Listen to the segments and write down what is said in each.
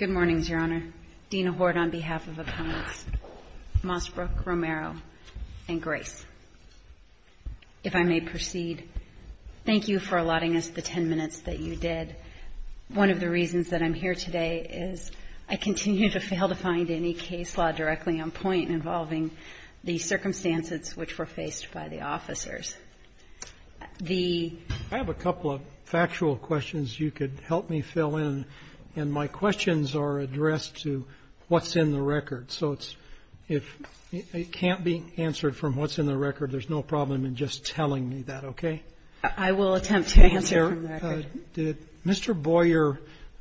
and Grace. If I may proceed, thank you for allotting us the 10 minutes that you did. One of the reasons that I'm here today is I continue to fail to find any case law directly on point involving the circumstances which were faced by the officers. I have a couple of factual questions you could help me fill in, and my questions are addressed to what's in the record. So if it can't be answered from what's in the record, there's no problem in just telling me that, okay? I will attempt to answer from the record. Did Mr. Boyer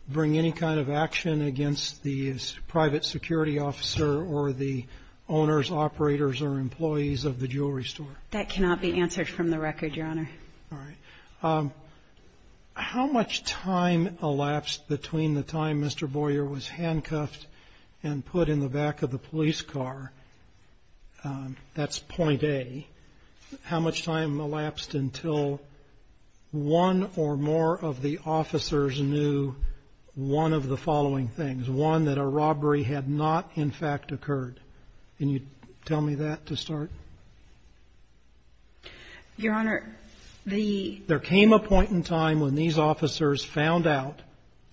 bring any kind of action against the private security officer or the owners, operators, or employees of the jewelry store? That cannot be answered from the record, Your Honor. All right. How much time elapsed between the time Mr. Boyer was handcuffed and put in the back of the police car? That's point A. How much time elapsed until one or more of the officers knew one of the following things? One, that a robbery had not, in fact, occurred. Can you tell me that to start? Your Honor, the — There came a point in time when these officers found out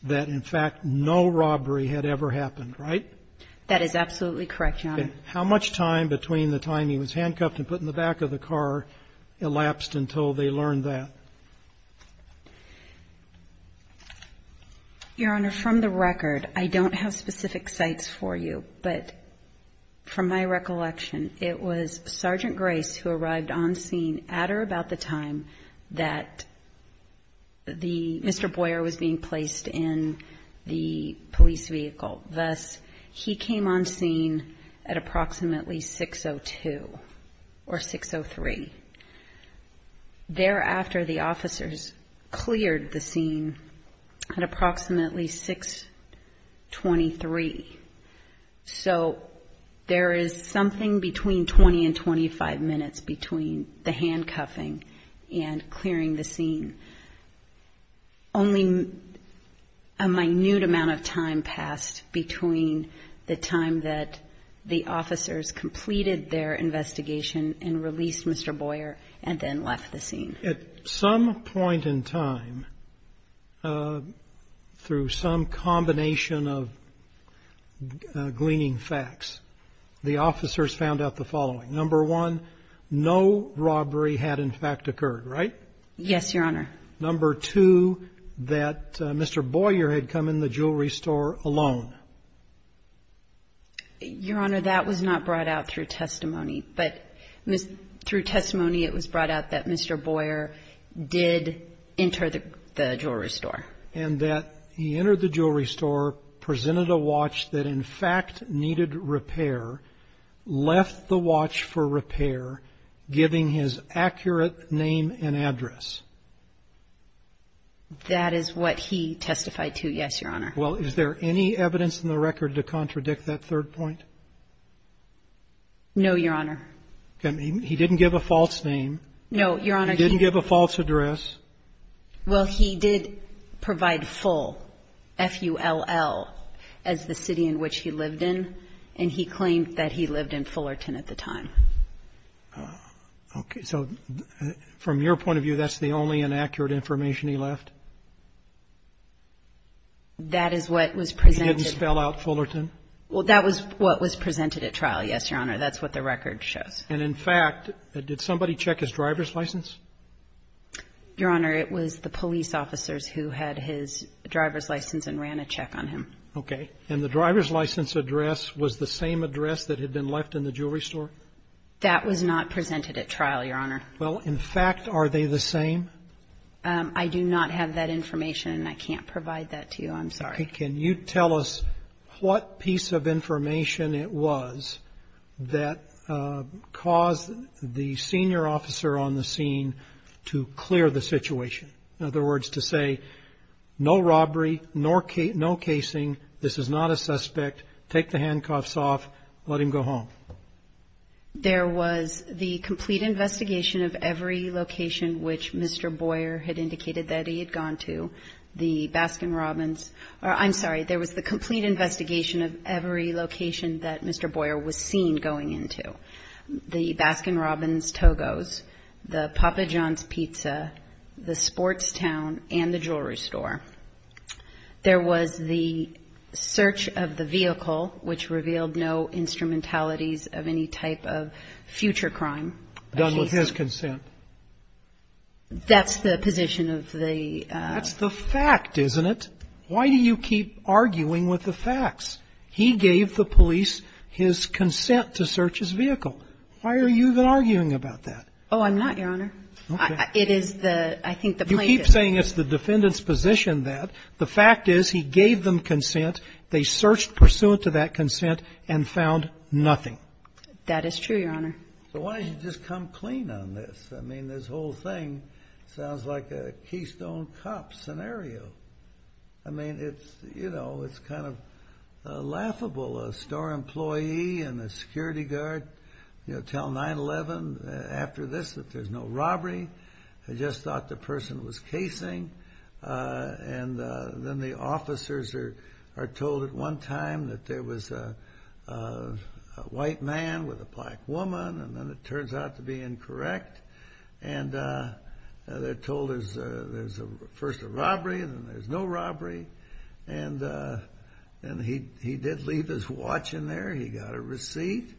that, in fact, no robbery had ever happened, right? That is absolutely correct, Your Honor. How much time between the time he was handcuffed and put in the back of the car elapsed until they learned that? Your Honor, from the record, I don't have specific sites for you, but from my recollection, it was Sergeant Grace who arrived on scene at or about the time that the — Mr. Boyer was being placed in the police vehicle. Thus, he came on scene at approximately 6.02 or 6.03. Thereafter, the officers cleared the scene at approximately 6.23. So there is something between 20 and 25 minutes between the handcuffing and clearing the scene. Only a minute amount of time passed between the time that the officers completed their investigation and released Mr. Boyer and then left the scene. At some point in time, through some combination of gleaning facts, the officers found out the following. Number one, no robbery had, in fact, occurred, right? Yes, Your Honor. Number two, that Mr. Boyer had come in the jewelry store alone. Your Honor, that was not brought out through testimony. But through testimony, it was brought out that Mr. Boyer did enter the jewelry store. And that he entered the jewelry store, presented a watch that, in fact, needed repair, left the watch for repair, giving his accurate name and address. That is what he testified to, yes, Your Honor. Well, is there any evidence in the record to contradict that third point? No, Your Honor. He didn't give a false name. No, Your Honor. He didn't give a false address. Well, he did provide Full, F-U-L-L, as the city in which he lived in. And he claimed that he lived in Fullerton at the time. Okay. So from your point of view, that's the only inaccurate information he left? That is what was presented. He didn't spell out Fullerton? Well, that was what was presented at trial, yes, Your Honor. That's what the record shows. And, in fact, did somebody check his driver's license? Your Honor, it was the police officers who had his driver's license and ran a check on him. Okay. And the driver's license address was the same address that had been left in the jewelry store? That was not presented at trial, Your Honor. Well, in fact, are they the same? I do not have that information, and I can't provide that to you. I'm sorry. Okay. Can you tell us what piece of information it was that caused the senior officer on the scene to clear the situation? In other words, to say, no robbery, no casing, this is not a suspect, take the handcuffs off, let him go home. There was the complete investigation of every location which Mr. Boyer had indicated that he had gone to, the Baskin-Robbins, or I'm sorry, there was the complete investigation of every location that Mr. Boyer was seen going into, the Baskin-Robbins, Togo's, the Papa John's Pizza, the Sports Town, and the jewelry store. There was the search of the vehicle, which revealed no instrumentalities of any type of future crime. Done with his consent. That's the position of the ---- That's the fact, isn't it? Why do you keep arguing with the facts? He gave the police his consent to search his vehicle. Why are you even arguing about that? Oh, I'm not, Your Honor. Okay. It is the ---- You keep saying it's the defendant's position that the fact is he gave them consent, they searched pursuant to that consent, and found nothing. That is true, Your Honor. So why don't you just come clean on this? I mean, this whole thing sounds like a Keystone Cop scenario. I mean, it's, you know, it's kind of laughable. A store employee and a security guard, you know, tell 9-11 after this that there's no robbery. They just thought the person was casing. And then the officers are told at one time that there was a white man with a black woman, and then it turns out to be incorrect. And they're told there's first a robbery, and then there's no robbery. And he did leave his watch in there. He got a receipt.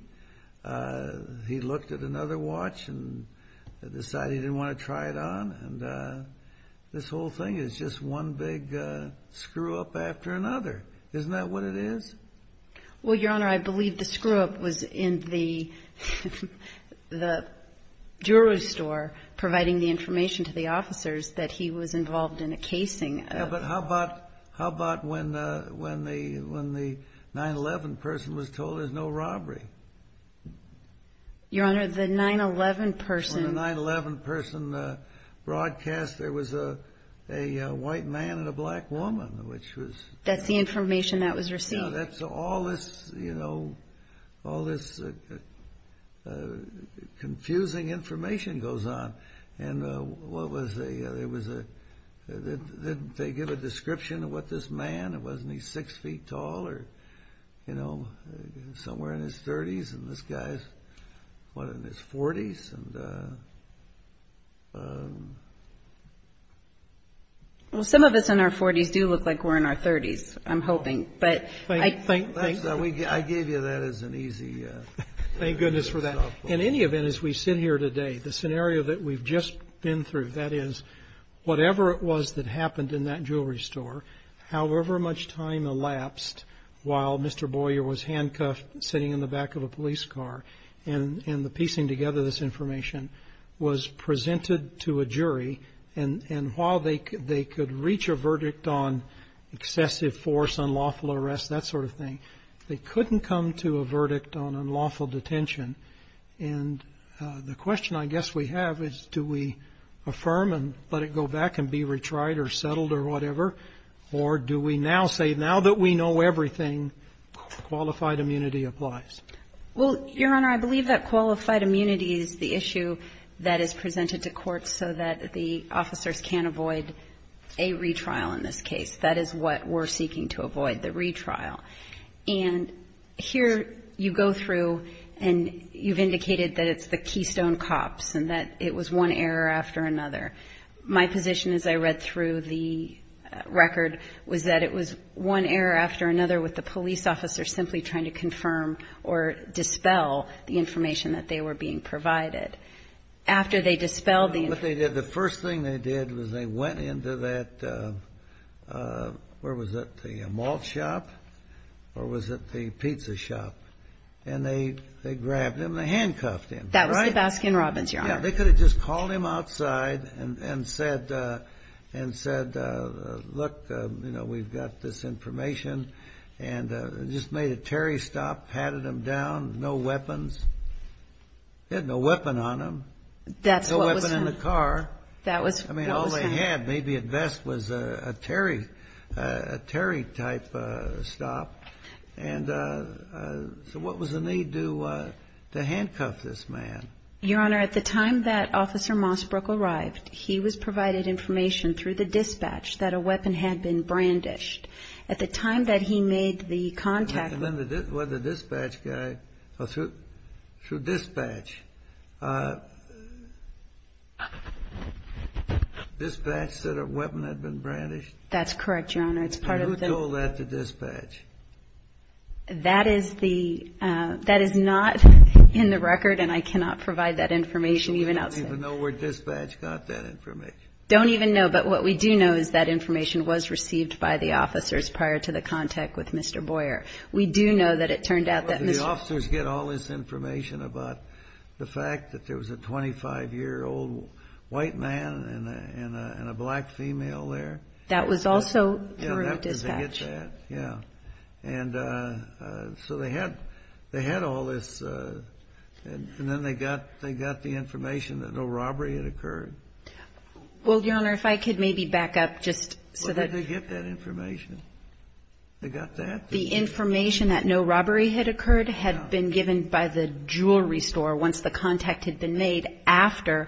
He looked at another watch and decided he didn't want to try it on. And this whole thing is just one big screw-up after another. Isn't that what it is? Well, Your Honor, I believe the screw-up was in the jewelry store providing the information to the officers that he was involved in a casing. Yeah, but how about when the 9-11 person was told there's no robbery? Your Honor, the 9-11 person. When the 9-11 person broadcast there was a white man and a black woman, which was... The information that was received. So all this confusing information goes on. And what was the... Did they give a description of what this man was? Wasn't he 6 feet tall or somewhere in his 30s? And this guy is, what, in his 40s? And... Well, some of us in our 40s do look like we're in our 30s, I'm hoping, but... I gave you that as an easy... Thank goodness for that. In any event, as we sit here today, the scenario that we've just been through, that is whatever it was that happened in that jewelry store, however much time elapsed while Mr. Boyer was handcuffed sitting in the back of a police car and piecing together this information was presented to a jury. And while they could reach a verdict on excessive force, unlawful arrest, that sort of thing, they couldn't come to a verdict on unlawful detention. And the question I guess we have is do we affirm and let it go back and be retried or settled or whatever, or do we now say now that we know everything, qualified immunity applies? Well, Your Honor, I believe that qualified immunity is the issue that is presented to court so that the officers can't avoid a retrial in this case. That is what we're seeking to avoid, the retrial. And here you go through and you've indicated that it's the Keystone cops and that it was one error after another. My position as I read through the record was that it was one error after another with the police officer simply trying to confirm or dispel the information that they were being provided. After they dispelled the information. What they did, the first thing they did was they went into that, where was it, the malt shop or was it the pizza shop, and they grabbed him and they handcuffed him. Yeah, they could have just called him outside and said, look, you know, we've got this information and just made a Terry stop, patted him down, no weapons. He had no weapon on him. No weapon in the car. I mean, all they had maybe at best was a Terry type stop. And so what was the need to handcuff this man? Your Honor, at the time that Officer Mossbrook arrived, he was provided information through the dispatch that a weapon had been brandished. At the time that he made the contact. And then the dispatch guy, through dispatch, dispatch said a weapon had been brandished? That's correct, Your Honor. And who told that to dispatch? That is not in the record, and I cannot provide that information even outside. We don't even know where dispatch got that information. Don't even know. But what we do know is that information was received by the officers prior to the contact with Mr. Boyer. We do know that it turned out that Mr. The officers get all this information about the fact that there was a 25-year-old white man and a black female there. That was also through dispatch. Yeah, they get that. Yeah. And so they had all this, and then they got the information that no robbery had occurred. Well, Your Honor, if I could maybe back up just so that. Where did they get that information? They got that? The information that no robbery had occurred had been given by the jewelry store once the contact had been made after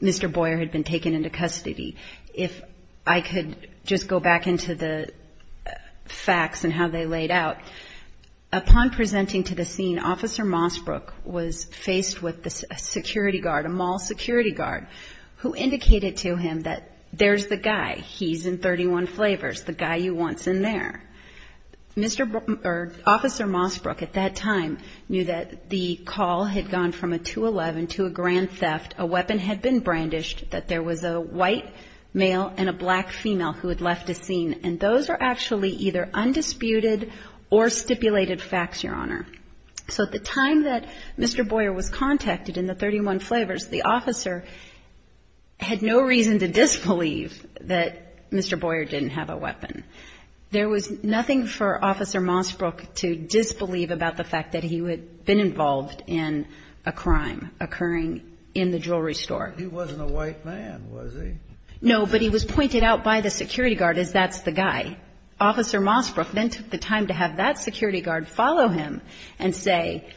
Mr. Boyer had been taken into custody. If I could just go back into the facts and how they laid out. Upon presenting to the scene, Officer Mossbrook was faced with a security guard, a mall security guard, who indicated to him that there's the guy. He's in 31 Flavors, the guy you want's in there. Officer Mossbrook at that time knew that the call had gone from a 211 to a grand theft. A weapon had been brandished that there was a white male and a black female who had left the scene, and those were actually either undisputed or stipulated facts, Your Honor. So at the time that Mr. Boyer was contacted in the 31 Flavors, the officer had no reason to disbelieve that Mr. Boyer didn't have a weapon. There was nothing for Officer Mossbrook to disbelieve about the fact that he had been involved in a crime occurring in the jewelry store. He wasn't a white man, was he? No, but he was pointed out by the security guard as that's the guy. Officer Mossbrook then took the time to have that security guard follow him and say,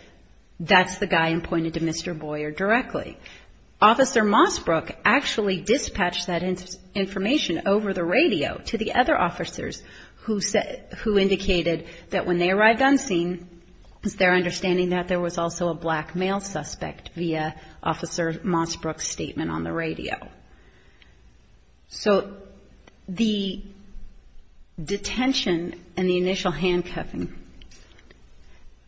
that's the guy, and pointed to Mr. Boyer directly. Officer Mossbrook actually dispatched that information over the radio to the other officers who indicated that when they arrived on scene, it was their understanding that there was also a black male suspect via Officer Mossbrook's statement on the radio. So the detention and the initial handcuffing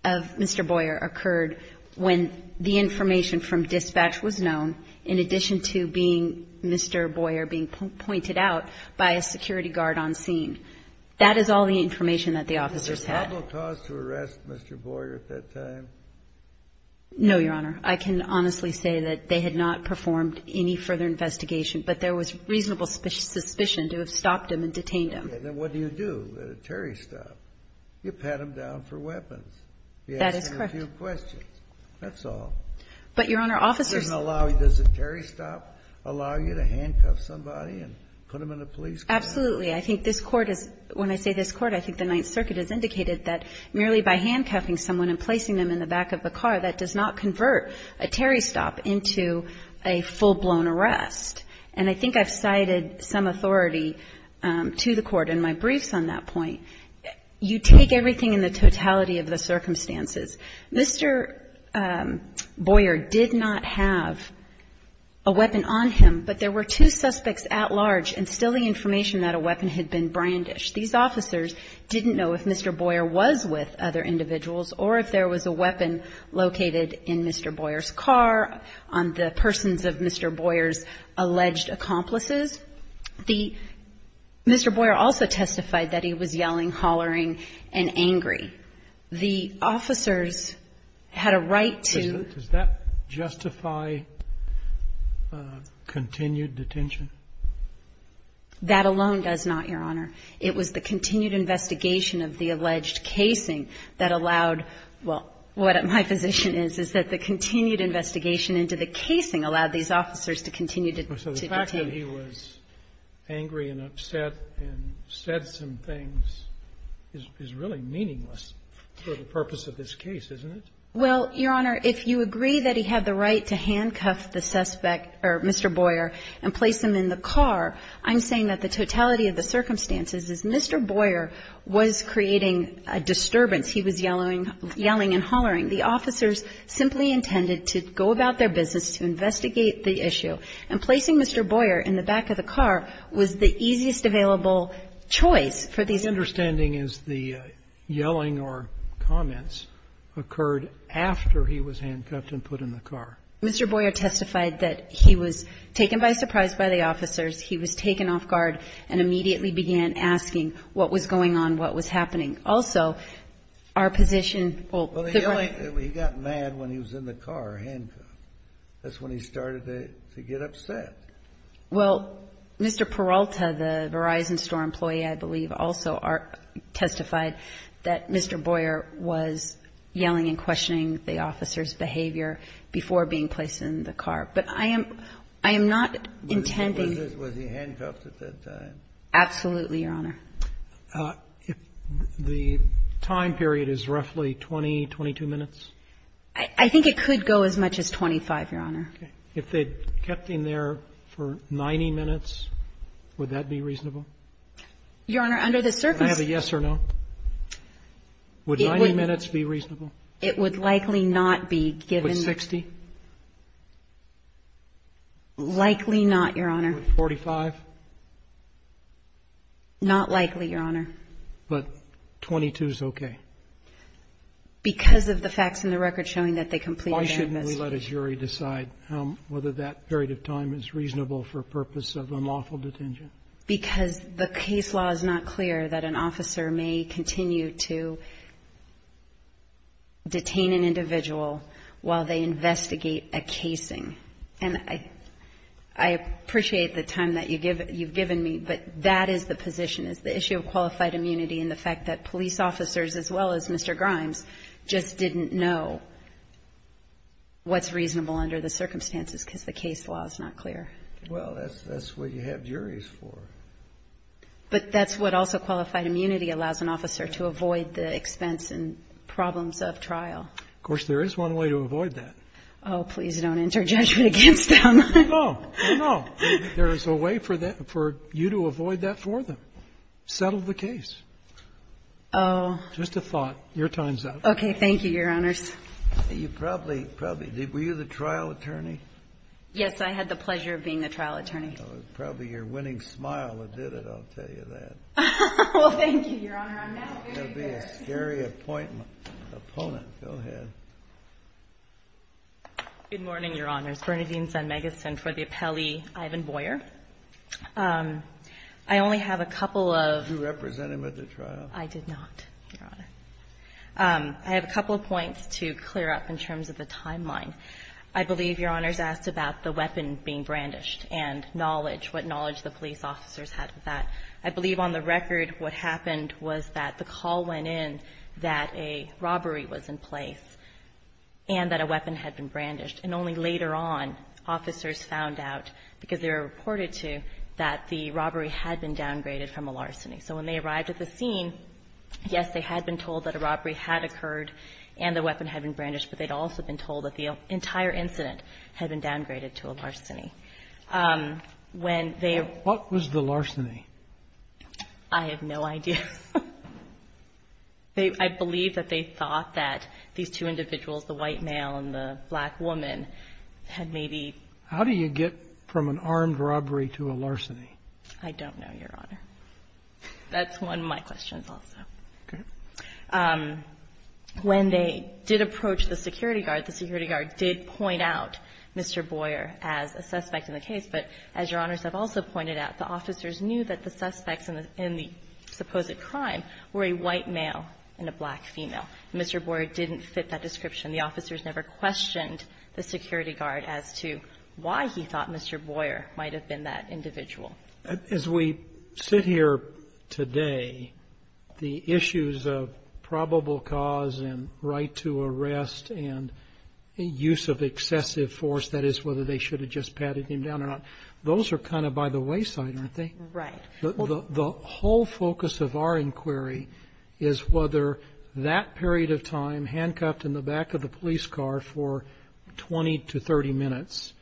of Mr. Boyer occurred when the information from dispatch was known, in addition to being Mr. Boyer being pointed out by a security guard on scene. That is all the information that the officers had. Was there probable cause to arrest Mr. Boyer at that time? No, Your Honor. I can honestly say that they had not performed any further investigation, but there was reasonable suspicion to have stopped him and detained him. Then what do you do at a Terry stop? You pat him down for weapons. That is correct. You ask him a few questions. That's all. But, Your Honor, officers doesn't allow, does a Terry stop allow you to handcuff somebody and put them in a police car? Absolutely. I think this Court is, when I say this Court, I think the Ninth Circuit has indicated that merely by handcuffing someone and placing them in the back of a car, that does not convert a Terry stop into a full-blown arrest. And I think I've cited some authority to the Court in my briefs on that point. You take everything in the totality of the circumstances. Mr. Boyer did not have a weapon on him, but there were two suspects at large and still the information that a weapon had been brandished. These officers didn't know if Mr. Boyer was with other individuals or if there was a weapon located in Mr. Boyer's car, on the persons of Mr. Boyer's alleged accomplices. The Mr. Boyer also testified that he was yelling, hollering, and angry. The officers had a right to do that. Does that justify continued detention? That alone does not, Your Honor. It was the continued investigation of the alleged casing that allowed, well, what my position is, is that the continued investigation into the casing allowed these officers to continue to detain. So the fact that he was angry and upset and said some things is really meaningless for the purpose of this case, isn't it? Well, Your Honor, if you agree that he had the right to handcuff the suspect or Mr. Boyer and place him in the car, I'm saying that the totality of the circumstances is Mr. Boyer was creating a disturbance. He was yelling and hollering. The officers simply intended to go about their business, to investigate the issue. And placing Mr. Boyer in the back of the car was the easiest available choice for these people. My understanding is the yelling or comments occurred after he was handcuffed and put in the car. Mr. Boyer testified that he was taken by surprise by the officers. He was taken off guard and immediately began asking what was going on, what was happening. Also, our position, well, the boy. He got mad when he was in the car handcuffed. That's when he started to get upset. Well, Mr. Peralta, the Verizon Store employee, I believe, also testified that Mr. Boyer was yelling and questioning the officers' behavior before being placed in the car. But I am not intending. Was he handcuffed at that time? Absolutely, Your Honor. If the time period is roughly 20, 22 minutes? I think it could go as much as 25, Your Honor. Okay. If they kept him there for 90 minutes, would that be reasonable? Your Honor, under the circumstances. Can I have a yes or no? Would 90 minutes be reasonable? It would likely not be given. With 60? Likely not, Your Honor. With 45? Not likely, Your Honor. But 22 is okay? Because of the facts in the record showing that they completed their investigation. Why shouldn't we let a jury decide whether that period of time is reasonable for purpose of unlawful detention? Because the case law is not clear that an officer may continue to detain an individual while they investigate a casing. And I appreciate the time that you've given me, but that is the position, is the issue of qualified immunity and the fact that police officers as well as Mr. Grimes just didn't know what's reasonable under the circumstances because the case law is not clear. Well, that's what you have juries for. But that's what also qualified immunity allows an officer to avoid the expense and problems of trial. Of course, there is one way to avoid that. Oh, please don't enter judgment against them. No, no. There is a way for you to avoid that for them. Settle the case. Oh. Just a thought. Your time's up. Okay. Thank you, Your Honors. You probably, probably. Were you the trial attorney? Yes, I had the pleasure of being the trial attorney. It was probably your winning smile that did it, I'll tell you that. Well, thank you, Your Honor. I'm not very good. That would be a scary opponent. Go ahead. Good morning, Your Honors. Bernadine Zunmegeson for the appellee, Ivan Boyer. I only have a couple of. Did you represent him at the trial? I did not, Your Honor. I have a couple of points to clear up in terms of the timeline. I believe Your Honors asked about the weapon being brandished and knowledge, what knowledge the police officers had of that. I believe on the record what happened was that the call went in that a robbery was in place and that a weapon had been brandished, and only later on officers found out, because they were reported to, that the robbery had been downgraded from a larceny. So when they arrived at the scene, yes, they had been told that a robbery had occurred and the weapon had been brandished, but they'd also been told that the entire incident had been downgraded to a larceny. What was the larceny? I have no idea. I believe that they thought that these two individuals, the white male and the black woman, had maybe been. How do you get from an armed robbery to a larceny? I don't know, Your Honor. That's one of my questions also. Okay. When they did approach the security guard, the security guard did point out Mr. Boyer was a suspect in the case, but as Your Honors have also pointed out, the officers knew that the suspects in the supposed crime were a white male and a black female. Mr. Boyer didn't fit that description. The officers never questioned the security guard as to why he thought Mr. Boyer might have been that individual. As we sit here today, the issues of probable cause and right to arrest and use of excessive force, that is whether they should have just patted him down or not, those are kind of by the wayside, aren't they? Right. The whole focus of our inquiry is whether that period of time handcuffed in the back of the police car for 20 to 30 minutes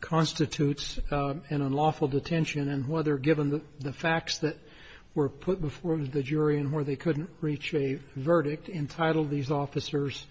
constitutes an unlawful detention and whether, given the facts that were put before the jury and where they couldn't reach a verdict, entitled these officers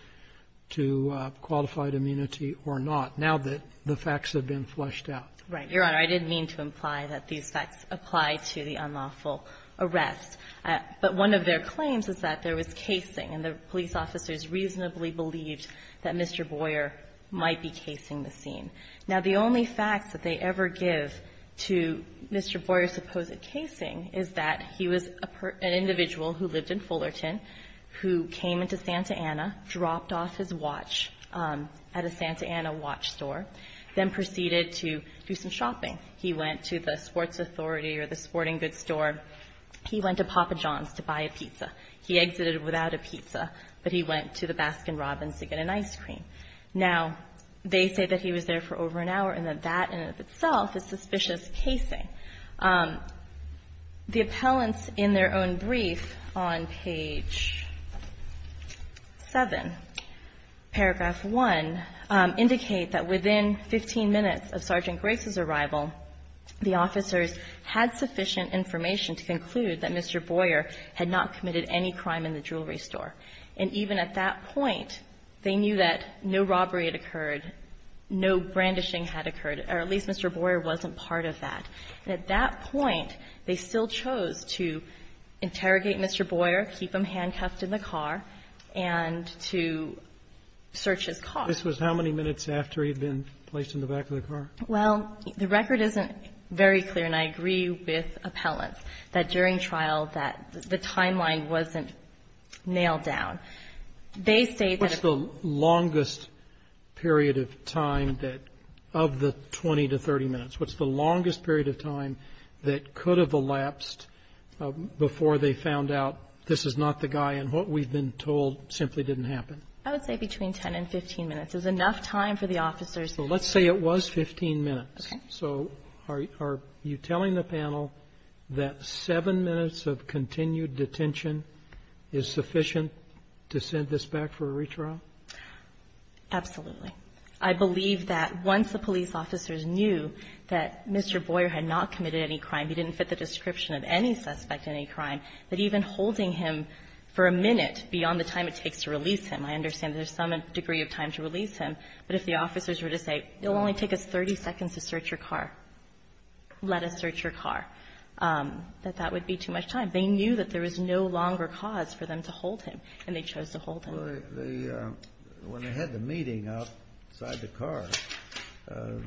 to qualified immunity or not, now that the facts have been flushed out. Right. Your Honor, I didn't mean to imply that these facts apply to the unlawful arrest. But one of their claims is that there was casing, and the police officers reasonably believed that Mr. Boyer might be casing the scene. Now, the only facts that they ever give to Mr. Boyer's supposed casing is that he was an individual who lived in Fullerton, who came into Santa Ana, dropped off his watch at a Santa Ana watch store, then proceeded to do some shopping. He went to the sports authority or the sporting goods store. He went to Papa John's to buy a pizza. He exited without a pizza, but he went to the Baskin-Robbins to get an ice cream. Now, they say that he was there for over an hour, and that that in and of itself is suspicious casing. The appellants in their own brief on page 7, paragraph 1, indicate that within 15 minutes of Sergeant Grace's arrival, the officers had sufficient information to conclude that Mr. Boyer had not committed any crime in the jewelry store. And even at that point, they knew that no robbery had occurred, no brandishing had occurred, or at least Mr. Boyer wasn't part of that. And at that point, they still chose to interrogate Mr. Boyer, keep him handcuffed in the car, and to search his car. This was how many minutes after he had been placed in the back of the car? Well, the record isn't very clear, and I agree with appellants, that during trial that the timeline wasn't nailed down. They say that if the longest period of time that of the 20 to 30 minutes, what's the longest period of time that could have elapsed before they found out this is not the guy, and what we've been told simply didn't happen? I would say between 10 and 15 minutes. There's enough time for the officers. Well, let's say it was 15 minutes. Okay. So are you telling the panel that 7 minutes of continued detention is sufficient to send this back for a retrial? Absolutely. I believe that once the police officers knew that Mr. Boyer had not committed any crime, he didn't fit the description of any suspect in any crime, that even holding him for a minute beyond the time it takes to release him, I understand there's some degree of time to release him, but if the officers were to say, it will only take us 30 seconds to search your car, let us search your car, that that would be too much time. They knew that there was no longer cause for them to hold him, and they chose to hold him. Well, when they had the meeting outside the car, they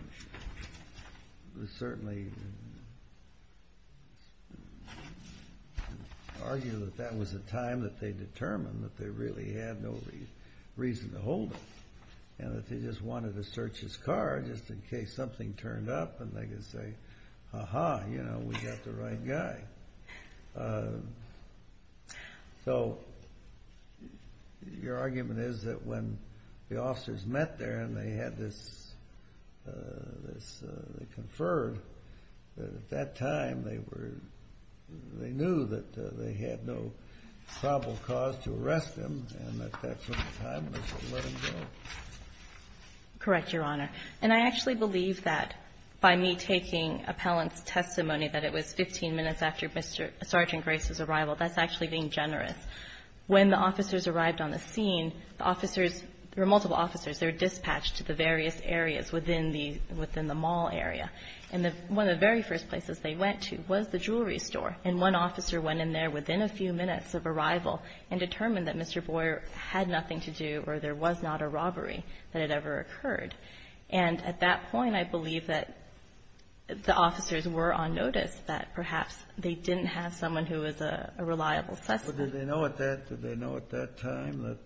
certainly argued that that was a time that they determined that they really had no reason to hold him, and that they just wanted to search his car just in case something turned up, and they could say, aha, you know, we got the right guy. So your argument is that when the officers met there and they had this conferred, at that time they knew that they had no probable cause to arrest him, and that that's when the time was to let him go. Correct, Your Honor. And I actually believe that by me taking appellant's testimony that it was 15 minutes after Sergeant Grace's arrival, that's actually being generous. When the officers arrived on the scene, the officers, there were multiple officers, they were dispatched to the various areas within the mall area. And one of the very first places they went to was the jewelry store, and one officer went in there within a few minutes of arrival and determined that Mr. Boyer had nothing to do or there was not a robbery that had ever occurred. And at that point, I believe that the officers were on notice that perhaps they didn't have someone who was a reliable suspect. Did they know at that time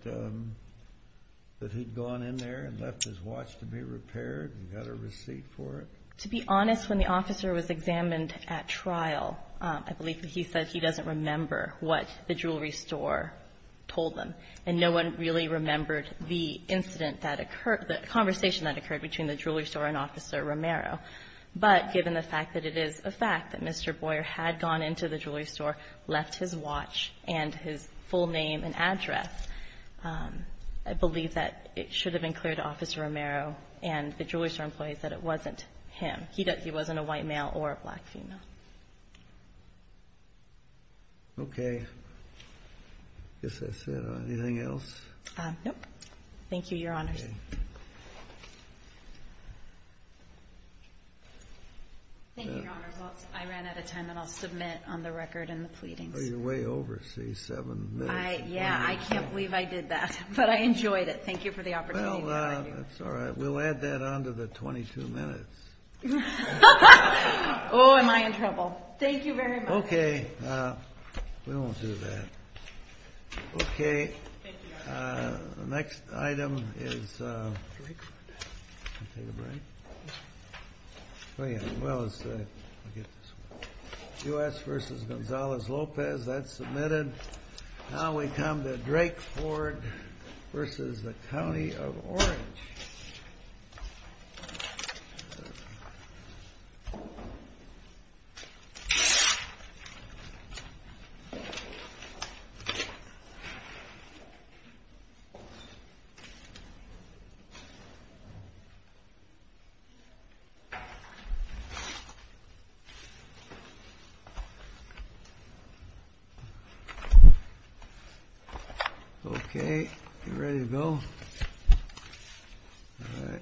that he'd gone in there and left his watch to be repaired and got a receipt for it? To be honest, when the officer was examined at trial, I believe that he said he doesn't remember what the jewelry store told them, and no one really remembered the incident that occurred, the conversation that occurred between the jewelry store and Officer Romero. But given the fact that it is a fact that Mr. Boyer had gone into the jewelry store, left his watch and his full name and address, I believe that it should have been clear to Officer Romero and the jewelry store employees that it wasn't him. He wasn't a white male or a black female. Okay. Anything else? No. Thank you, Your Honors. Thank you, Your Honors. I ran out of time, and I'll submit on the record and the pleadings. Oh, you're way over, see, seven minutes. Yeah, I can't believe I did that. But I enjoyed it. Thank you for the opportunity. Well, that's all right. We'll add that on to the 22 minutes. Oh, am I in trouble. Thank you very much. Okay. We won't do that. Okay. Thank you, Your Honors. The next item is Drakeford. Can I take a break? Oh, yeah. Well, it's the U.S. versus Gonzales-Lopez. That's submitted. Now we come to Drakeford versus the County of Orange. Okay. You ready to go? All right.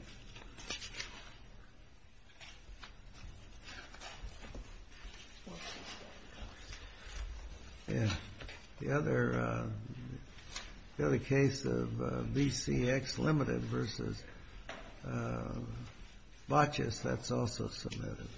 Thank you. The other case of BCX Limited versus Botches, that's also submitted.